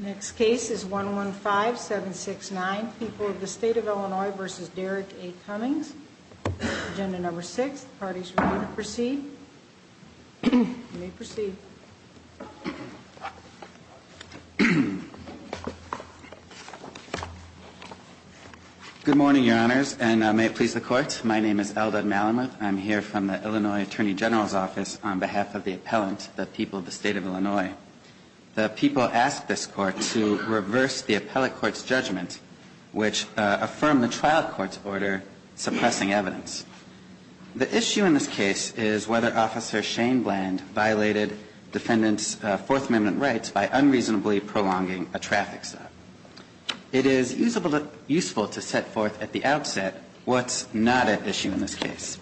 Next case is 115769, People of the State of Illinois v. Derrick A. Cummings. Agenda number six. The parties are going to proceed. You may proceed. Good morning, Your Honors, and may it please the Court. My name is Eldad Malamud. I'm here from the Illinois Attorney General's Office on behalf of the appellant, the People of the State of Illinois. The People asked this Court to reverse the appellate court's judgment, which affirmed the trial court's order suppressing evidence. The issue in this case is whether Officer Shane Bland violated defendants' Fourth Amendment rights by unreasonably prolonging a traffic stop. It is useful to set forth at the outset what's not at issue in this case.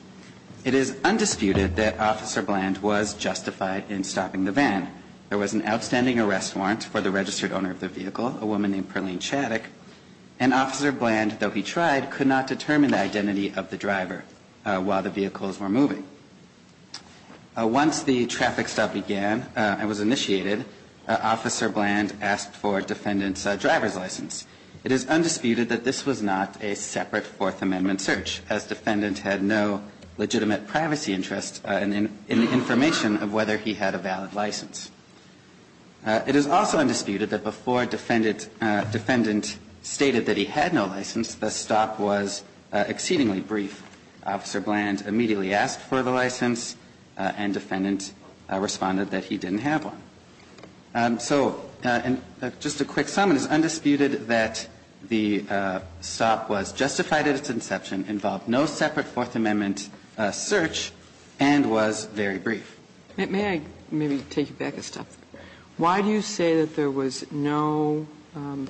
It is undisputed that Officer Bland was justified in stopping the van. There was an outstanding arrest warrant for the registered owner of the vehicle, a woman named Perlene Chaddock. And Officer Bland, though he tried, could not determine the identity of the driver while the vehicles were moving. Once the traffic stop began and was initiated, Officer Bland asked for defendants' driver's license. It is undisputed that this was not a separate Fourth Amendment search, as defendant had no legitimate privacy interest in the information of whether he had a valid license. It is also undisputed that before defendant stated that he had no license, the stop was exceedingly brief. Officer Bland immediately asked for the license, and defendant responded that he didn't have one. So just a quick sum. It is undisputed that the stop was justified at its inception, involved no separate Fourth Amendment search, and was very brief. May I maybe take you back a step? Why do you say that there was no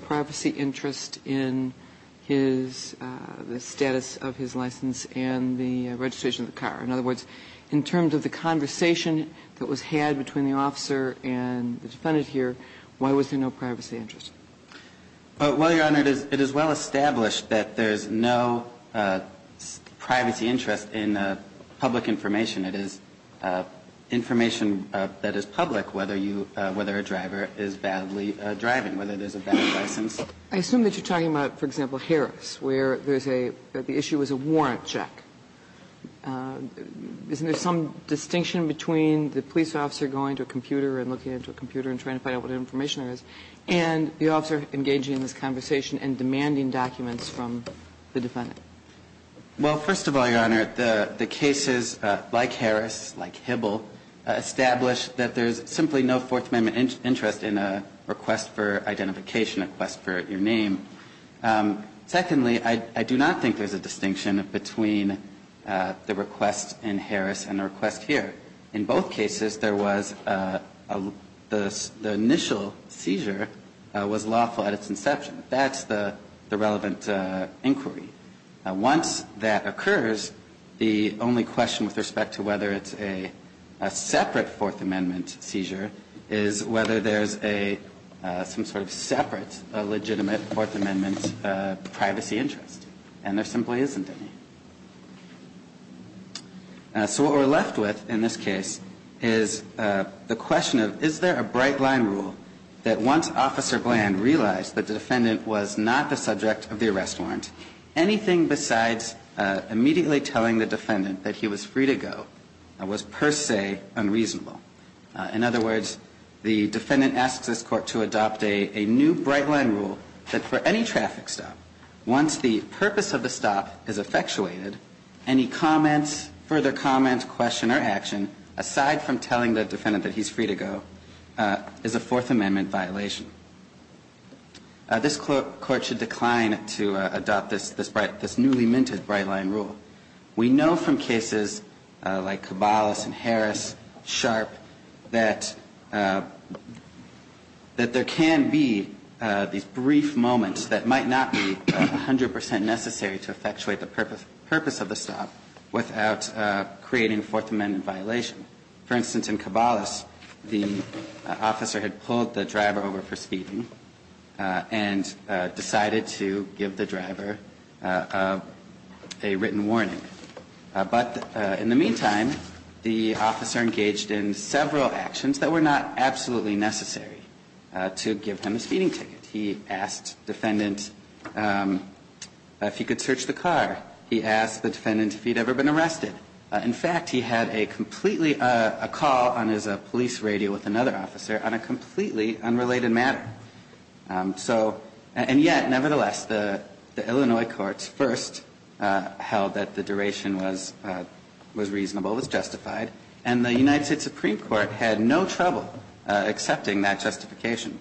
privacy interest in his the status of his license and the registration of the car? In other words, in terms of the conversation that was had between the officer and the defendant here, why was there no privacy interest? Well, Your Honor, it is well established that there is no privacy interest in public information. It is information that is public, whether you – whether a driver is badly driving, whether there's a bad license. I assume that you're talking about, for example, Harris, where there's a – the issue was a warrant check. Isn't there some distinction between the police officer going to a computer and looking at a computer and trying to find out what information there is, and the officer engaging in this conversation and demanding documents from the defendant? Well, first of all, Your Honor, the cases like Harris, like Hibble, establish that there's simply no Fourth Amendment interest in a request for identification, a request for your name. Secondly, I do not think there's a distinction between the request in Harris and the request here. In both cases, there was a – the initial seizure was lawful at its inception. That's the relevant inquiry. Once that occurs, the only question with respect to whether it's a separate Fourth Amendment seizure is whether there's a – some sort of separate legitimate Fourth Amendment privacy interest, and there simply isn't any. So what we're left with in this case is the question of is there a bright-line rule that once Officer Gland realized that the defendant was not the subject of the arrest warrant, anything besides immediately telling the defendant that he was free to go was per se unreasonable. In other words, the defendant asks this Court to adopt a new bright-line rule that for any traffic stop, once the purpose of the stop is effectuated, any comments, further comments, question, or action, aside from telling the defendant that he's free to go, is a Fourth Amendment violation. This Court should decline to adopt this newly-minted bright-line rule. We know from cases like Cabales and Harris, Sharp, that there can be these brief moments that might not be 100 percent necessary to effectuate the purpose of the stop without creating a Fourth Amendment violation. For instance, in Cabales, the officer had pulled the driver over for speeding and decided to give the driver a written warning. But in the meantime, the officer engaged in several actions that were not absolutely necessary to give him a speeding ticket. He asked the defendant if he could search the car. He asked the defendant if he'd ever been arrested. In fact, he had a completely – a call on his police radio with another officer on a completely unrelated matter. So – and yet, nevertheless, the Illinois courts first held that the duration was reasonable, was justified, and the United States Supreme Court had no trouble accepting that justification.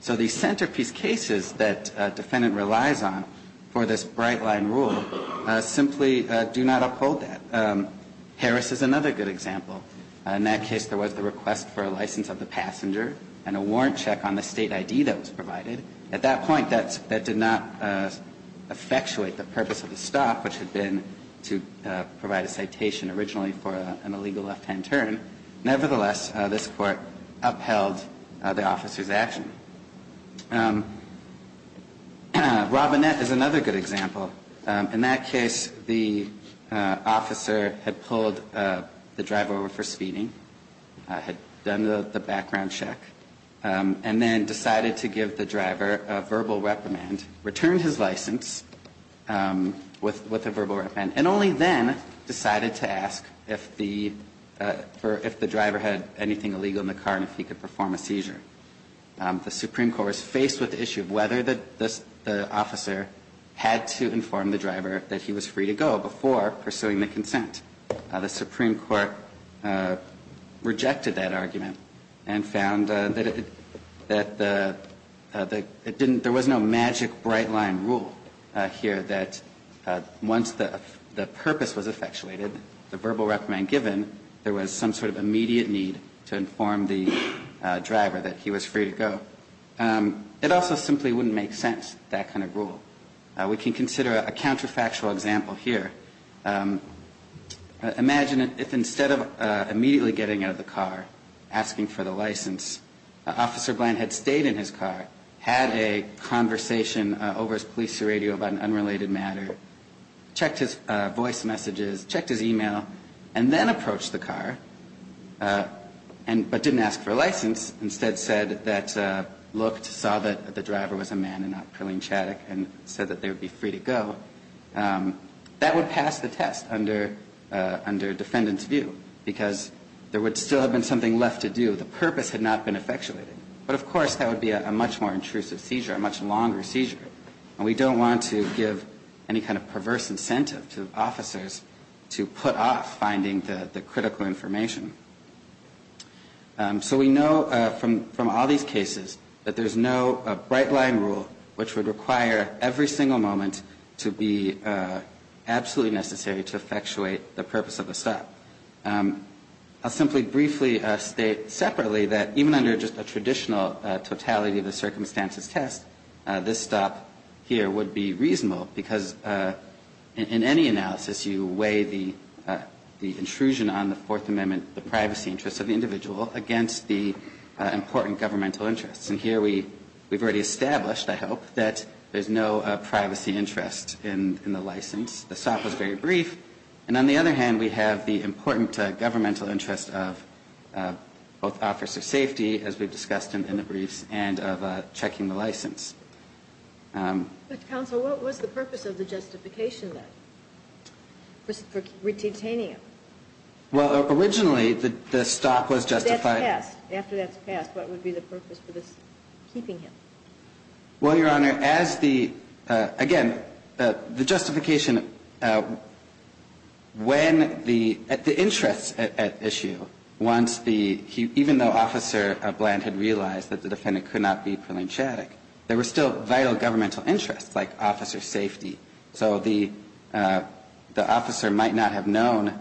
So these centerpiece cases that a defendant relies on for this bright-line rule simply do not uphold that. Harris is another good example. In that case, there was the request for a license of the passenger and a warrant check on the State ID that was provided. At that point, that did not effectuate the purpose of the stop, which had been to provide a citation originally for an illegal left-hand turn. Nevertheless, this Court upheld the officer's action. Robinette is another good example. In that case, the officer had pulled the driver over for speeding, had done the background check, and then decided to give the driver a verbal reprimand, returned his license with a verbal reprimand, and only then decided to ask if the driver had anything illegal in the car and if he could perform a seizure. The Supreme Court was faced with the issue of whether the officer had to inform the driver that he was free to go before pursuing the consent. The Supreme Court rejected that argument and found that it didn't – there was no magic bright-line rule here that once the purpose was effectuated, the verbal reprimand given, there was some sort of immediate need to inform the driver that he was free to go. It also simply wouldn't make sense, that kind of rule. We can consider a counterfactual example here. Imagine if instead of immediately getting out of the car, asking for the license, Officer Bland had stayed in his car, had a conversation over his police radio about an unrelated matter, checked his voice messages, checked his e-mail, and then approached the car, but didn't ask for a license, instead said that – looked, saw that the driver was a man and not Praline Chaddock and said that they would be free to go. That would pass the test under defendant's view because there would still have been something left to do. The purpose had not been effectuated. But of course, that would be a much more intrusive seizure, a much longer seizure. And we don't want to give any kind of perverse incentive to officers to put off finding the critical information. So we know from all these cases that there's no bright-line rule which would require every single moment to be absolutely necessary to effectuate the purpose of a stop. I'll simply briefly state separately that even under just a traditional totality of the circumstances test, this stop here would be reasonable because in any analysis you weigh the intrusion on the Fourth Amendment, the privacy interests of the individual against the important governmental interests. And here we've already established, I hope, that there's no privacy interest in the license. The stop was very brief. And on the other hand, we have the important governmental interest of both officer safety, as we've discussed in the briefs, and of checking the license. But counsel, what was the purpose of the justification then for retaining him? Well, originally the stop was justified. After that's passed, what would be the purpose for this keeping him? Well, Your Honor, as the, again, the justification, when the interests at issue, once the, even though Officer Bland had realized that the defendant could not be prudentiatic, there were still vital governmental interests, like officer safety. So the officer might not have known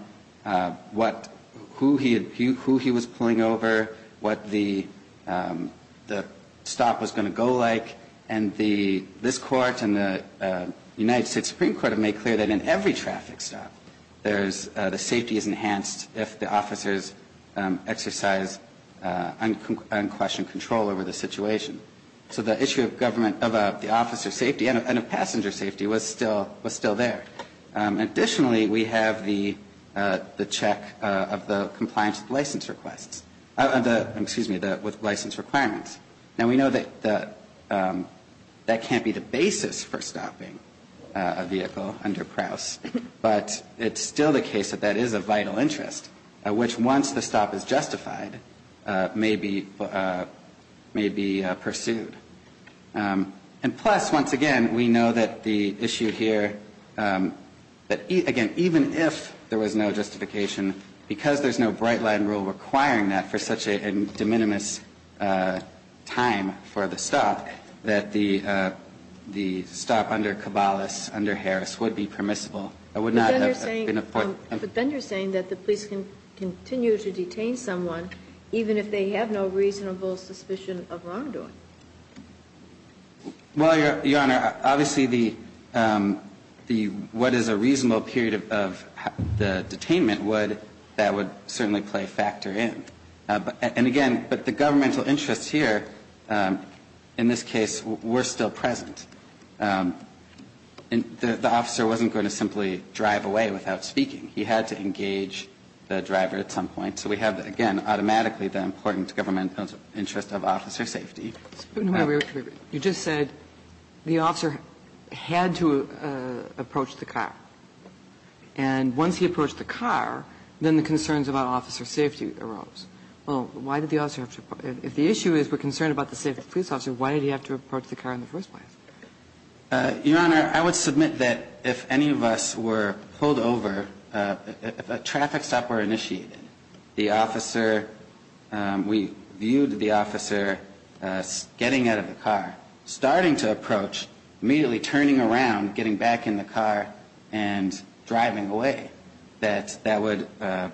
what, who he was pulling over, what the stop was going to look like. And the, this Court and the United States Supreme Court have made clear that in every traffic stop, there's, the safety is enhanced if the officers exercise unquestioned control over the situation. So the issue of government, of the officer safety and of passenger safety was still there. Additionally, we have the check of the compliance with license requests. Excuse me, with license requirements. Now, we know that the, that can't be the basis for stopping a vehicle under Prowse, but it's still the case that that is a vital interest, which once the stop is justified, may be, may be pursued. And plus, once again, we know that the issue here, that again, even if there was no justification, because there's no bright line rule requiring that for such a de minimis time for the stop, that the, the stop under Cabalas, under Harris would be permissible. It would not have been a point. But then you're saying that the police can continue to detain someone even if they have no reasonable suspicion of wrongdoing. Well, Your Honor, obviously the, the, what is a reasonable period of the detainment would, that would certainly play factor in. And again, but the governmental interests here, in this case, were still present. The officer wasn't going to simply drive away without speaking. He had to engage the driver at some point. So we have, again, automatically the important governmental interest of officer safety. You just said the officer had to approach the car. And once he approached the car, then the concerns about officer safety arose. Well, why did the officer have to, if the issue is we're concerned about the safety of the police officer, why did he have to approach the car in the first place? Your Honor, I would submit that if any of us were pulled over, if a traffic stop were initiated, the officer, we viewed the officer getting out of the car, starting to approach, immediately turning around, getting back in the car and driving away, that that would, that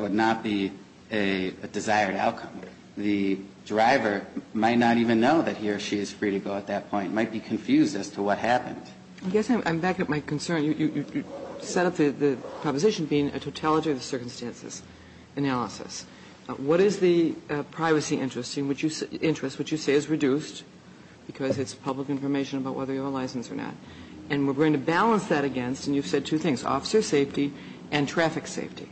would not be a desired outcome. The driver might not even know that he or she is free to go at that point, might be confused as to what happened. I guess I'm back at my concern. You, you, you set up the, the proposition being a totality of the circumstances analysis. What is the privacy interest in which you, interest which you say is reduced because it's public information about whether you're licensed or not. And we're going to balance that against, and you've said two things, officer safety and traffic safety.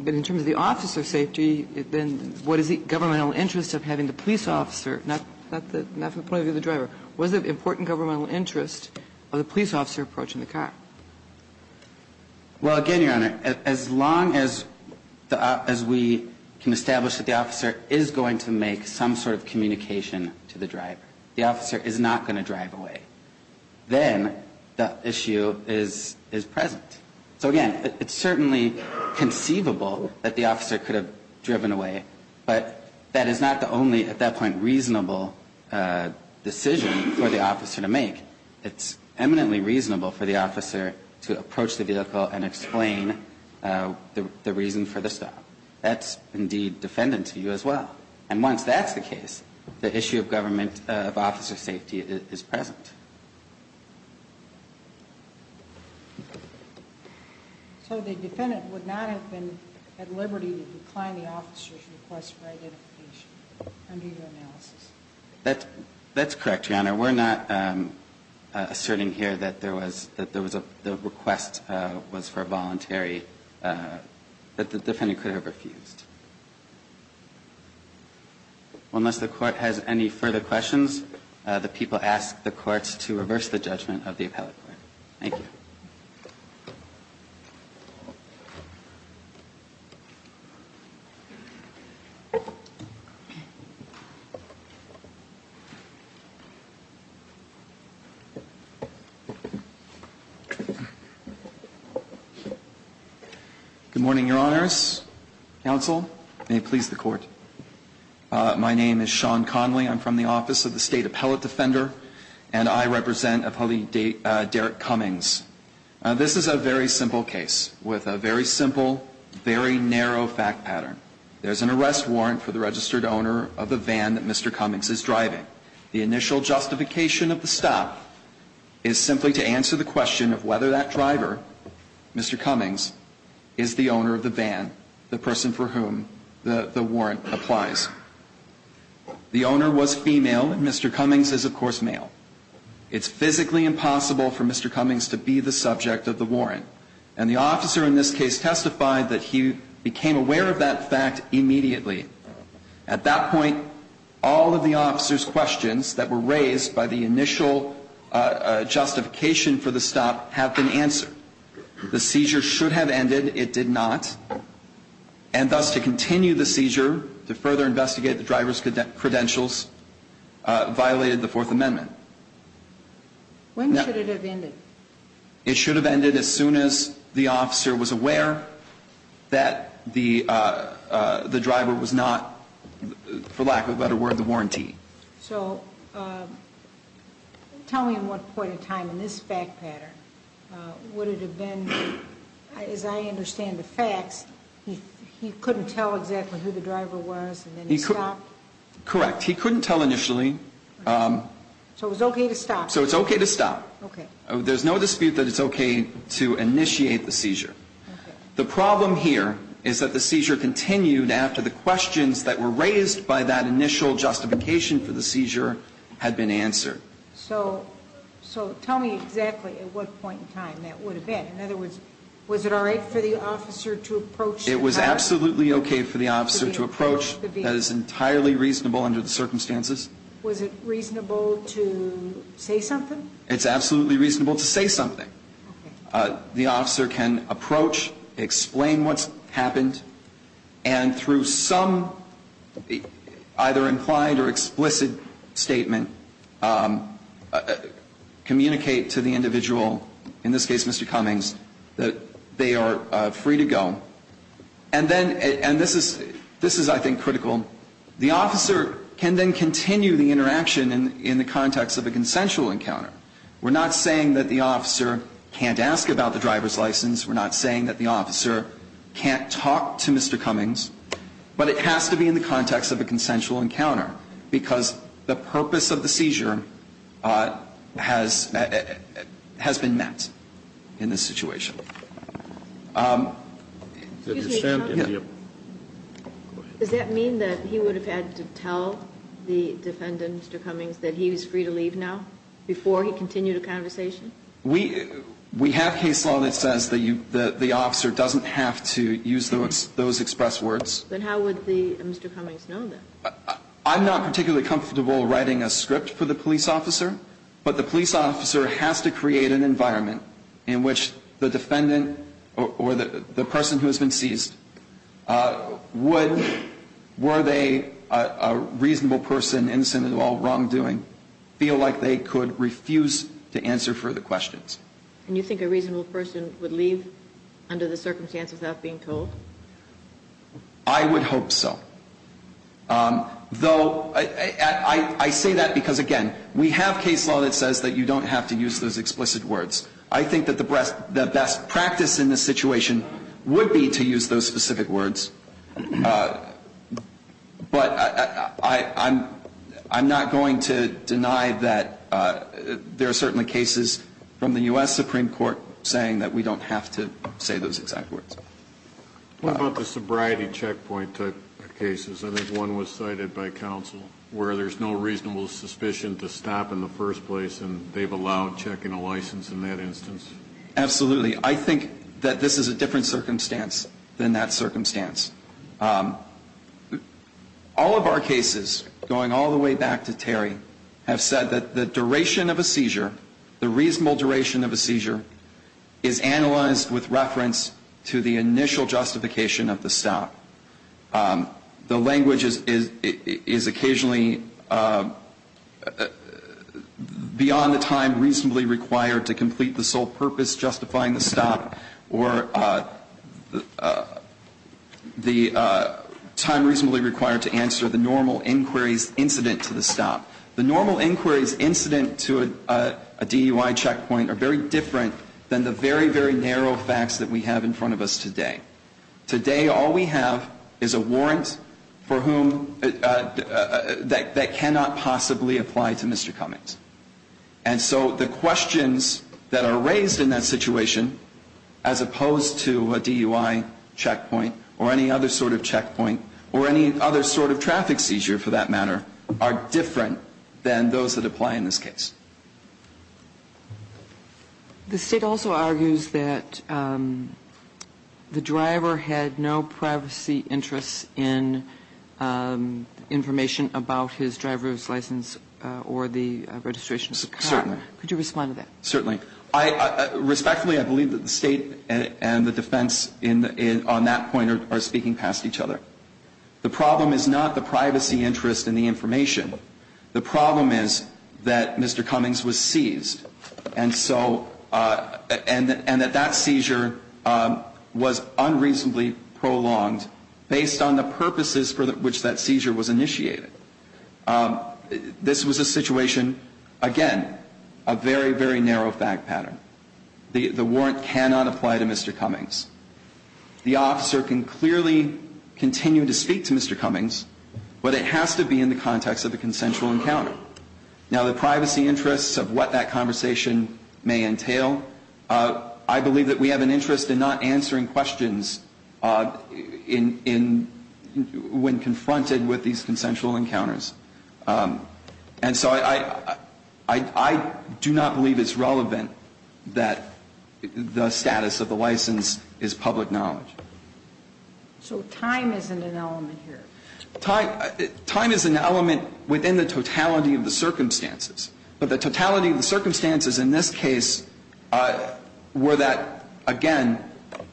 But in terms of the officer safety, then what is the governmental interest of having the police officer, not the, not from the point of view of the driver, what is the important governmental interest of the police officer approaching the car? Well, again, Your Honor, as long as the, as we can establish that the officer is going to make some sort of communication to the driver, the officer is not going to drive away, then the issue is, is present. So again, it's certainly conceivable that the officer could have driven away, but that is not the only, at that point, reasonable decision for the officer to make. It's eminently reasonable for the officer to approach the vehicle and explain the reason for the stop. That's indeed defendant to you as well. And once that's the case, the issue of government of officer safety is present. So the defendant would not have been at liberty to decline the officer's request for identification under your analysis? That's correct, Your Honor. We're not asserting here that there was, that the request was for a voluntary, that the defendant could have refused. Unless the court has any further questions, the people ask the courts to reverse the judgment of the appellate court. Thank you. Good morning, Your Honors. Counsel, may it please the Court. My name is Sean Conley. I'm from the Office of the State Appellate Defender, and I represent Appellee Derek Cummings. This is a very simple case with a very simple, very narrow fact pattern. There's an arrest warrant for the registered owner of the van that Mr. Cummings is driving. The initial justification of the stop is simply to answer the question of whether that driver, Mr. Cummings, is the owner of the van, the person for whom the warrant applies. The owner was female, and Mr. Cummings is, of course, male. It's physically impossible for Mr. Cummings to be the subject of the warrant. And the officer in this case testified that he became aware of that fact immediately. At that point, all of the officer's questions that were raised by the initial justification for the stop have been answered. The seizure should have ended. It did not. And thus, to continue the seizure, to further investigate the driver's credentials, violated the Fourth Amendment. When should it have ended? It should have ended as soon as the officer was aware that the driver was not, for lack of a better word, the warranty. So tell me at what point in time in this fact pattern would it have been, as I understand the facts, he couldn't tell exactly who the driver was and then he stopped? Correct. He couldn't tell initially. So it was okay to stop? So it's okay to stop. Okay. There's no dispute that it's okay to initiate the seizure. The problem here is that the seizure continued after the questions that were raised by that initial justification for the seizure had been answered. So tell me exactly at what point in time that would have been. In other words, was it all right for the officer to approach? It was absolutely okay for the officer to approach. That is entirely reasonable under the circumstances. Was it reasonable to say something? It's absolutely reasonable to say something. Okay. The officer can approach, explain what's happened, and through some either implied or explicit statement communicate to the individual, in this case Mr. Cummings, that they are free to go. And this is, I think, critical. The officer can then continue the interaction in the context of a consensual encounter. We're not saying that the officer can't ask about the driver's license. We're not saying that the officer can't talk to Mr. Cummings. But it has to be in the context of a consensual encounter because the purpose of the seizure has been met in this situation. Excuse me. Does that mean that he would have had to tell the defendant, Mr. Cummings, that he was free to leave now before he continued a conversation? We have case law that says that the officer doesn't have to use those expressed words. Then how would Mr. Cummings know that? I'm not particularly comfortable writing a script for the police officer. But the police officer has to create an environment in which the defendant or the person who has been seized, were they a reasonable person innocent of all wrongdoing, feel like they could refuse to answer further questions. And you think a reasonable person would leave under the circumstance without being told? I would hope so. Though I say that because, again, we have case law that says that you don't have to use those explicit words. I think that the best practice in this situation would be to use those specific words. But I'm not going to deny that there are certainly cases from the U.S. Supreme Court saying that we don't have to say those exact words. What about the sobriety checkpoint type cases? I think one was cited by counsel where there's no reasonable suspicion to stop in the first place and they've allowed checking a license in that instance. Absolutely. I think that this is a different circumstance than that circumstance. All of our cases, going all the way back to Terry, have said that the duration of a seizure, the reasonable duration of a seizure, is analyzed with reference to the initial justification of the stop. The language is occasionally beyond the time reasonably required to complete the sole purpose justifying the stop or the time reasonably required to answer the normal inquiries incident to the stop. The normal inquiries incident to a DUI checkpoint are very different than the very, very narrow facts that we have in front of us today. Today all we have is a warrant for whom that cannot possibly apply to Mr. Cummings. And so the questions that are raised in that situation, as opposed to a DUI checkpoint or any other sort of checkpoint or any other sort of traffic seizure for that matter, are different than those that apply in this case. The State also argues that the driver had no privacy interests in information about his driver's license or the registration of his car. Could you respond to that? Certainly. Respectfully, I believe that the State and the defense on that point are speaking past each other. The problem is not the privacy interest in the information. The problem is that Mr. Cummings was seized, and so that seizure was unreasonably based on the purposes for which that seizure was initiated. This was a situation, again, a very, very narrow fact pattern. The warrant cannot apply to Mr. Cummings. The officer can clearly continue to speak to Mr. Cummings, but it has to be in the context of a consensual encounter. Now, the privacy interests of what that conversation may entail, I believe that we have an interest in not answering questions when confronted with these consensual encounters. And so I do not believe it's relevant that the status of the license is public knowledge. So time isn't an element here. Time is an element within the totality of the circumstances. But the totality of the circumstances in this case were that, again,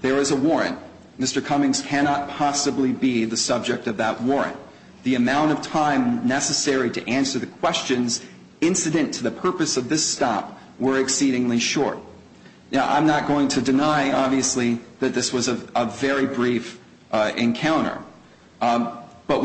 there is a warrant. Mr. Cummings cannot possibly be the subject of that warrant. The amount of time necessary to answer the questions incident to the purpose of this stop were exceedingly short. Now, I'm not going to deny, obviously, that this was a very brief encounter. But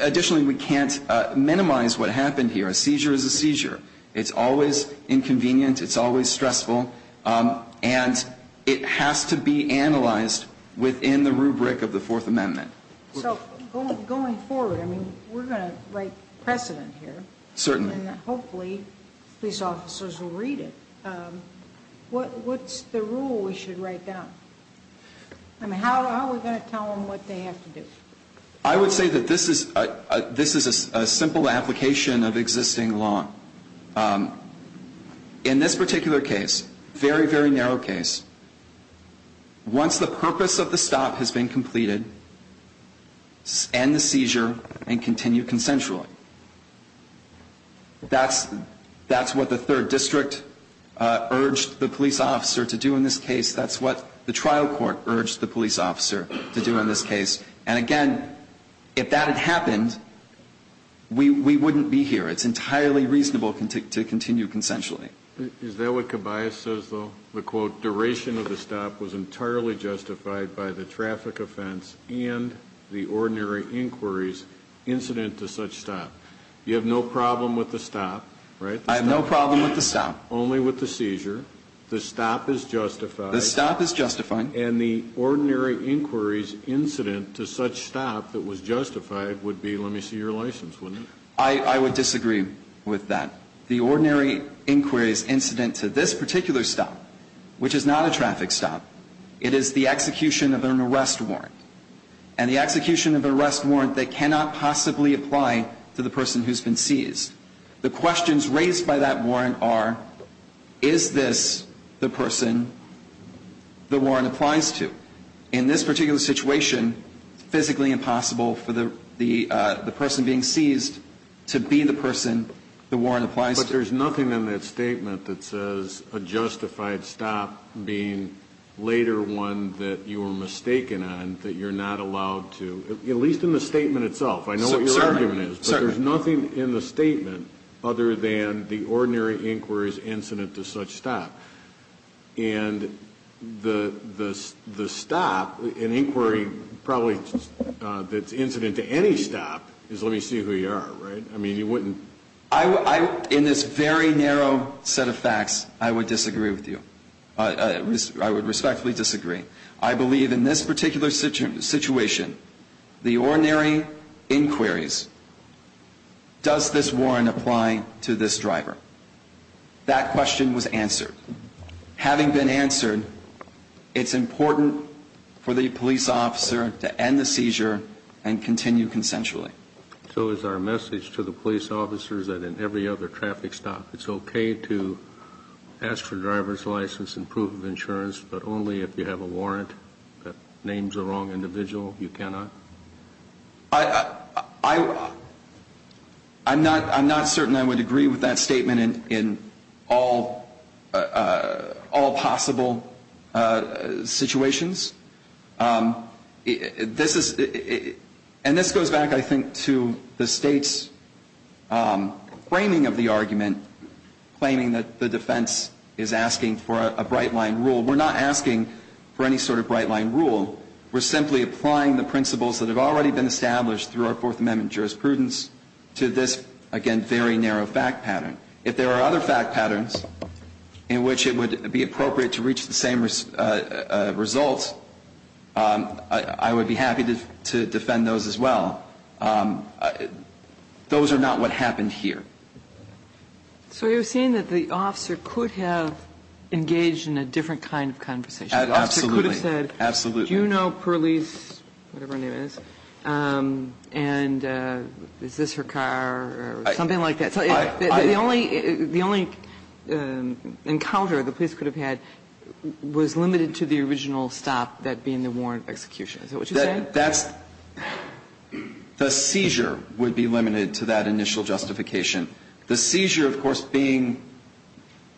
additionally, we can't minimize what happened here. A seizure is a seizure. It's always inconvenient. It's always stressful. And it has to be analyzed within the rubric of the Fourth Amendment. So going forward, I mean, we're going to write precedent here. Certainly. And hopefully police officers will read it. What's the rule we should write down? I mean, how are we going to tell them what they have to do? I would say that this is a simple application of existing law. In this particular case, very, very narrow case, once the purpose of the stop has been completed, end the seizure and continue consensually. That's what the Third District urged the police officer to do in this case. That's what the trial court urged the police officer to do in this case. And, again, if that had happened, we wouldn't be here. It's entirely reasonable to continue consensually. Is that what Cabayas says, though? The, quote, Duration of the stop was entirely justified by the traffic offense and the ordinary inquiries incident to such stop. You have no problem with the stop, right? I have no problem with the stop. Only with the seizure. The stop is justified. The stop is justified. And the ordinary inquiries incident to such stop that was justified would be, let me see your license, wouldn't it? I would disagree with that. The ordinary inquiries incident to this particular stop, which is not a traffic stop, it is the execution of an arrest warrant. And the execution of an arrest warrant that cannot possibly apply to the person who's been seized. The questions raised by that warrant are, is this the person the warrant applies to? In this particular situation, it's physically impossible for the person being seized to be the person the warrant applies to. But there's nothing in that statement that says a justified stop being later one that you were mistaken on, that you're not allowed to, at least in the statement itself. I know what your argument is. Certainly. But there's nothing in the statement other than the ordinary inquiries incident to such stop. And the stop, an inquiry probably that's incident to any stop, is let me see who you are, right? I mean, you wouldn't. In this very narrow set of facts, I would disagree with you. I would respectfully disagree. I believe in this particular situation, the ordinary inquiries, does this warrant apply to this driver? That question was answered. Having been answered, it's important for the police officer to end the seizure and continue consensually. So is our message to the police officers that in every other traffic stop, it's okay to ask for driver's license and proof of insurance, but only if you have a warrant that names a wrong individual? You cannot? I'm not certain I would agree with that statement in all possible situations. And this goes back, I think, to the State's framing of the argument, claiming that the defense is asking for a bright-line rule. We're not asking for any sort of bright-line rule. We're simply applying the principles that have already been established through our Fourth Amendment jurisprudence to this, again, very narrow fact pattern. If there are other fact patterns in which it would be appropriate to reach the same results, I would be happy to defend those as well. Those are not what happened here. So you're saying that the officer could have engaged in a different kind of conversation? Absolutely. The officer could have said, do you know Perlis, whatever her name is, and is this her car, or something like that? So the only encounter the police could have had was limited to the original stop, that being the warrant of execution. Is that what you're saying? That's the seizure would be limited to that initial justification. The seizure, of course, being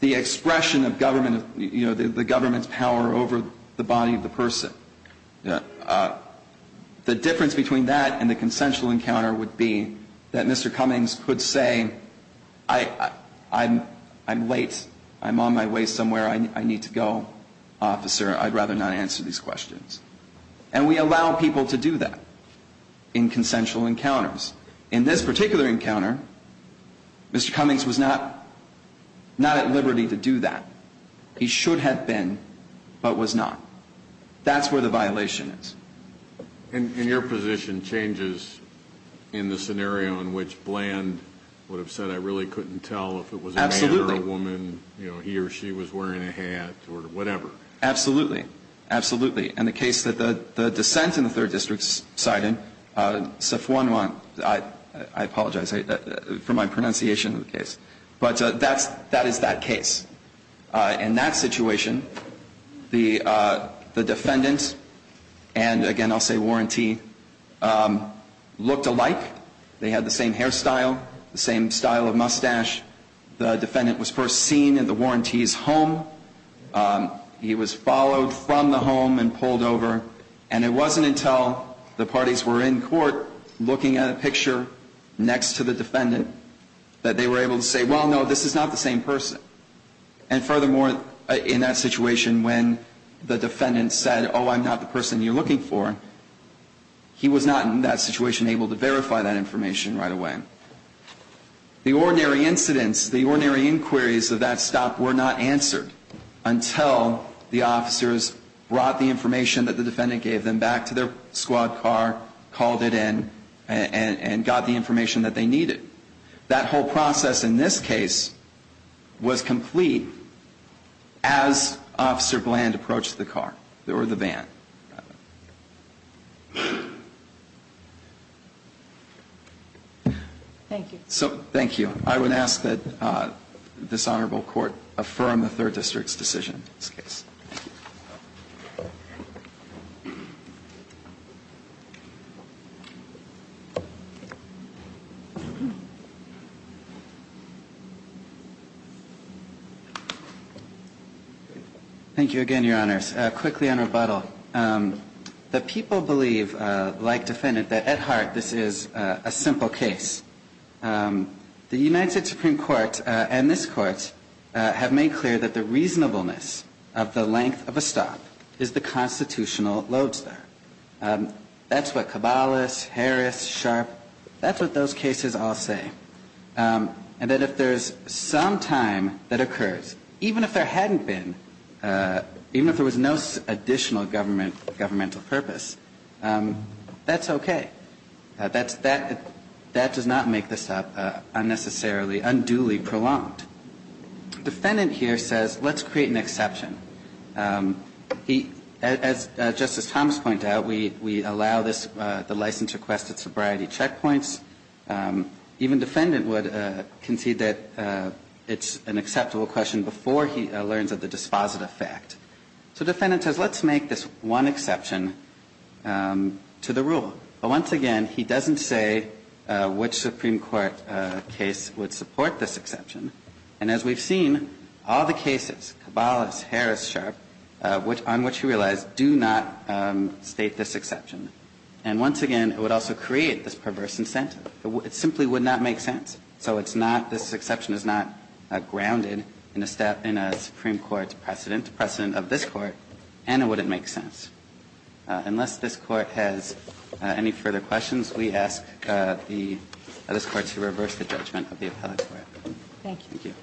the expression of government, you know, the government's power over the body of the person. The difference between that and the consensual encounter would be that Mr. Cummings could say, I'm late. I'm on my way somewhere. I need to go, officer. I'd rather not answer these questions. And we allow people to do that in consensual encounters. In this particular encounter, Mr. Cummings was not at liberty to do that. He should have been, but was not. That's where the violation is. And your position changes in the scenario in which Bland would have said, I really couldn't tell if it was a man or a woman. Absolutely. You know, he or she was wearing a hat or whatever. Absolutely. Absolutely. In the case that the dissent in the third district cited, Sifuonwan, I apologize for my pronunciation of the case, but that is that case. In that situation, the defendant and, again, I'll say warrantee, looked alike. They had the same hairstyle, the same style of mustache. The defendant was first seen in the warrantee's home. He was followed from the home and pulled over. And it wasn't until the parties were in court looking at a picture next to the defendant that they were able to say, well, no, this is not the same person. And furthermore, in that situation, when the defendant said, oh, I'm not the person you're looking for, he was not in that situation able to verify that information right away. The ordinary incidents, the ordinary inquiries of that stop were not answered until the officers brought the information that the defendant gave them back to their squad car, called it in, and got the information that they needed. That whole process in this case was complete as Officer Bland approached the car or the van. Thank you. So thank you. I would ask that this Honorable Court affirm the third district's decision in this case. Thank you again, Your Honors. Quickly on rebuttal. The people believe, like the defendant, that at heart this is a simple case. The United Supreme Court and this Court have made clear that the reasonableness of the law in this case is not a simple case. The reasonableness of the law in this case is not a simple case. The reasonableness of the law in this case is that the length of a stop is the constitutional loads there. That's what Cabalis, Harris, Sharp, that's what those cases all say. And that if there's some time that occurs, even if there hadn't been, even if there was no additional governmental purpose, that's okay. That does not make this unnecessarily unduly prolonged. Defendant here says let's create an exception. As Justice Thomas pointed out, we allow the license request at sobriety checkpoints. Even defendant would concede that it's an acceptable question before he learns of the dispositive fact. So defendant says let's make this one exception to the rule. But once again, he doesn't say which Supreme Court case would support this exception. And as we've seen, all the cases, Cabalis, Harris, Sharp, on which he relies, do not state this exception. And once again, it would also create this perverse incentive. It simply would not make sense. So it's not, this exception is not grounded in a Supreme Court precedent, precedent of this Court, and it wouldn't make sense. Unless this Court has any further questions, we ask this Court to reverse the judgment of the appellate court. Thank you.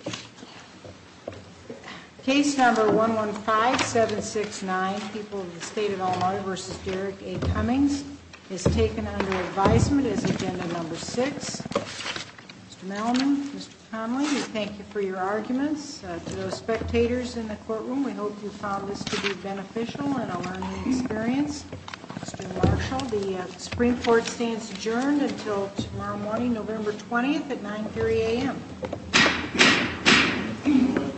Bill 15769, People of the State of Illinois v. Derek A. Cummings is taken under advisement as agenda number six. Mr. Melvin, Mr. Connelly, we thank you for your arguments. To those spectators in the courtroom, we hope you found this to be beneficial and a learning experience. Mr. Marshall, the Supreme Court stands adjourned until tomorrow morning, November 20th at 9.30 AM.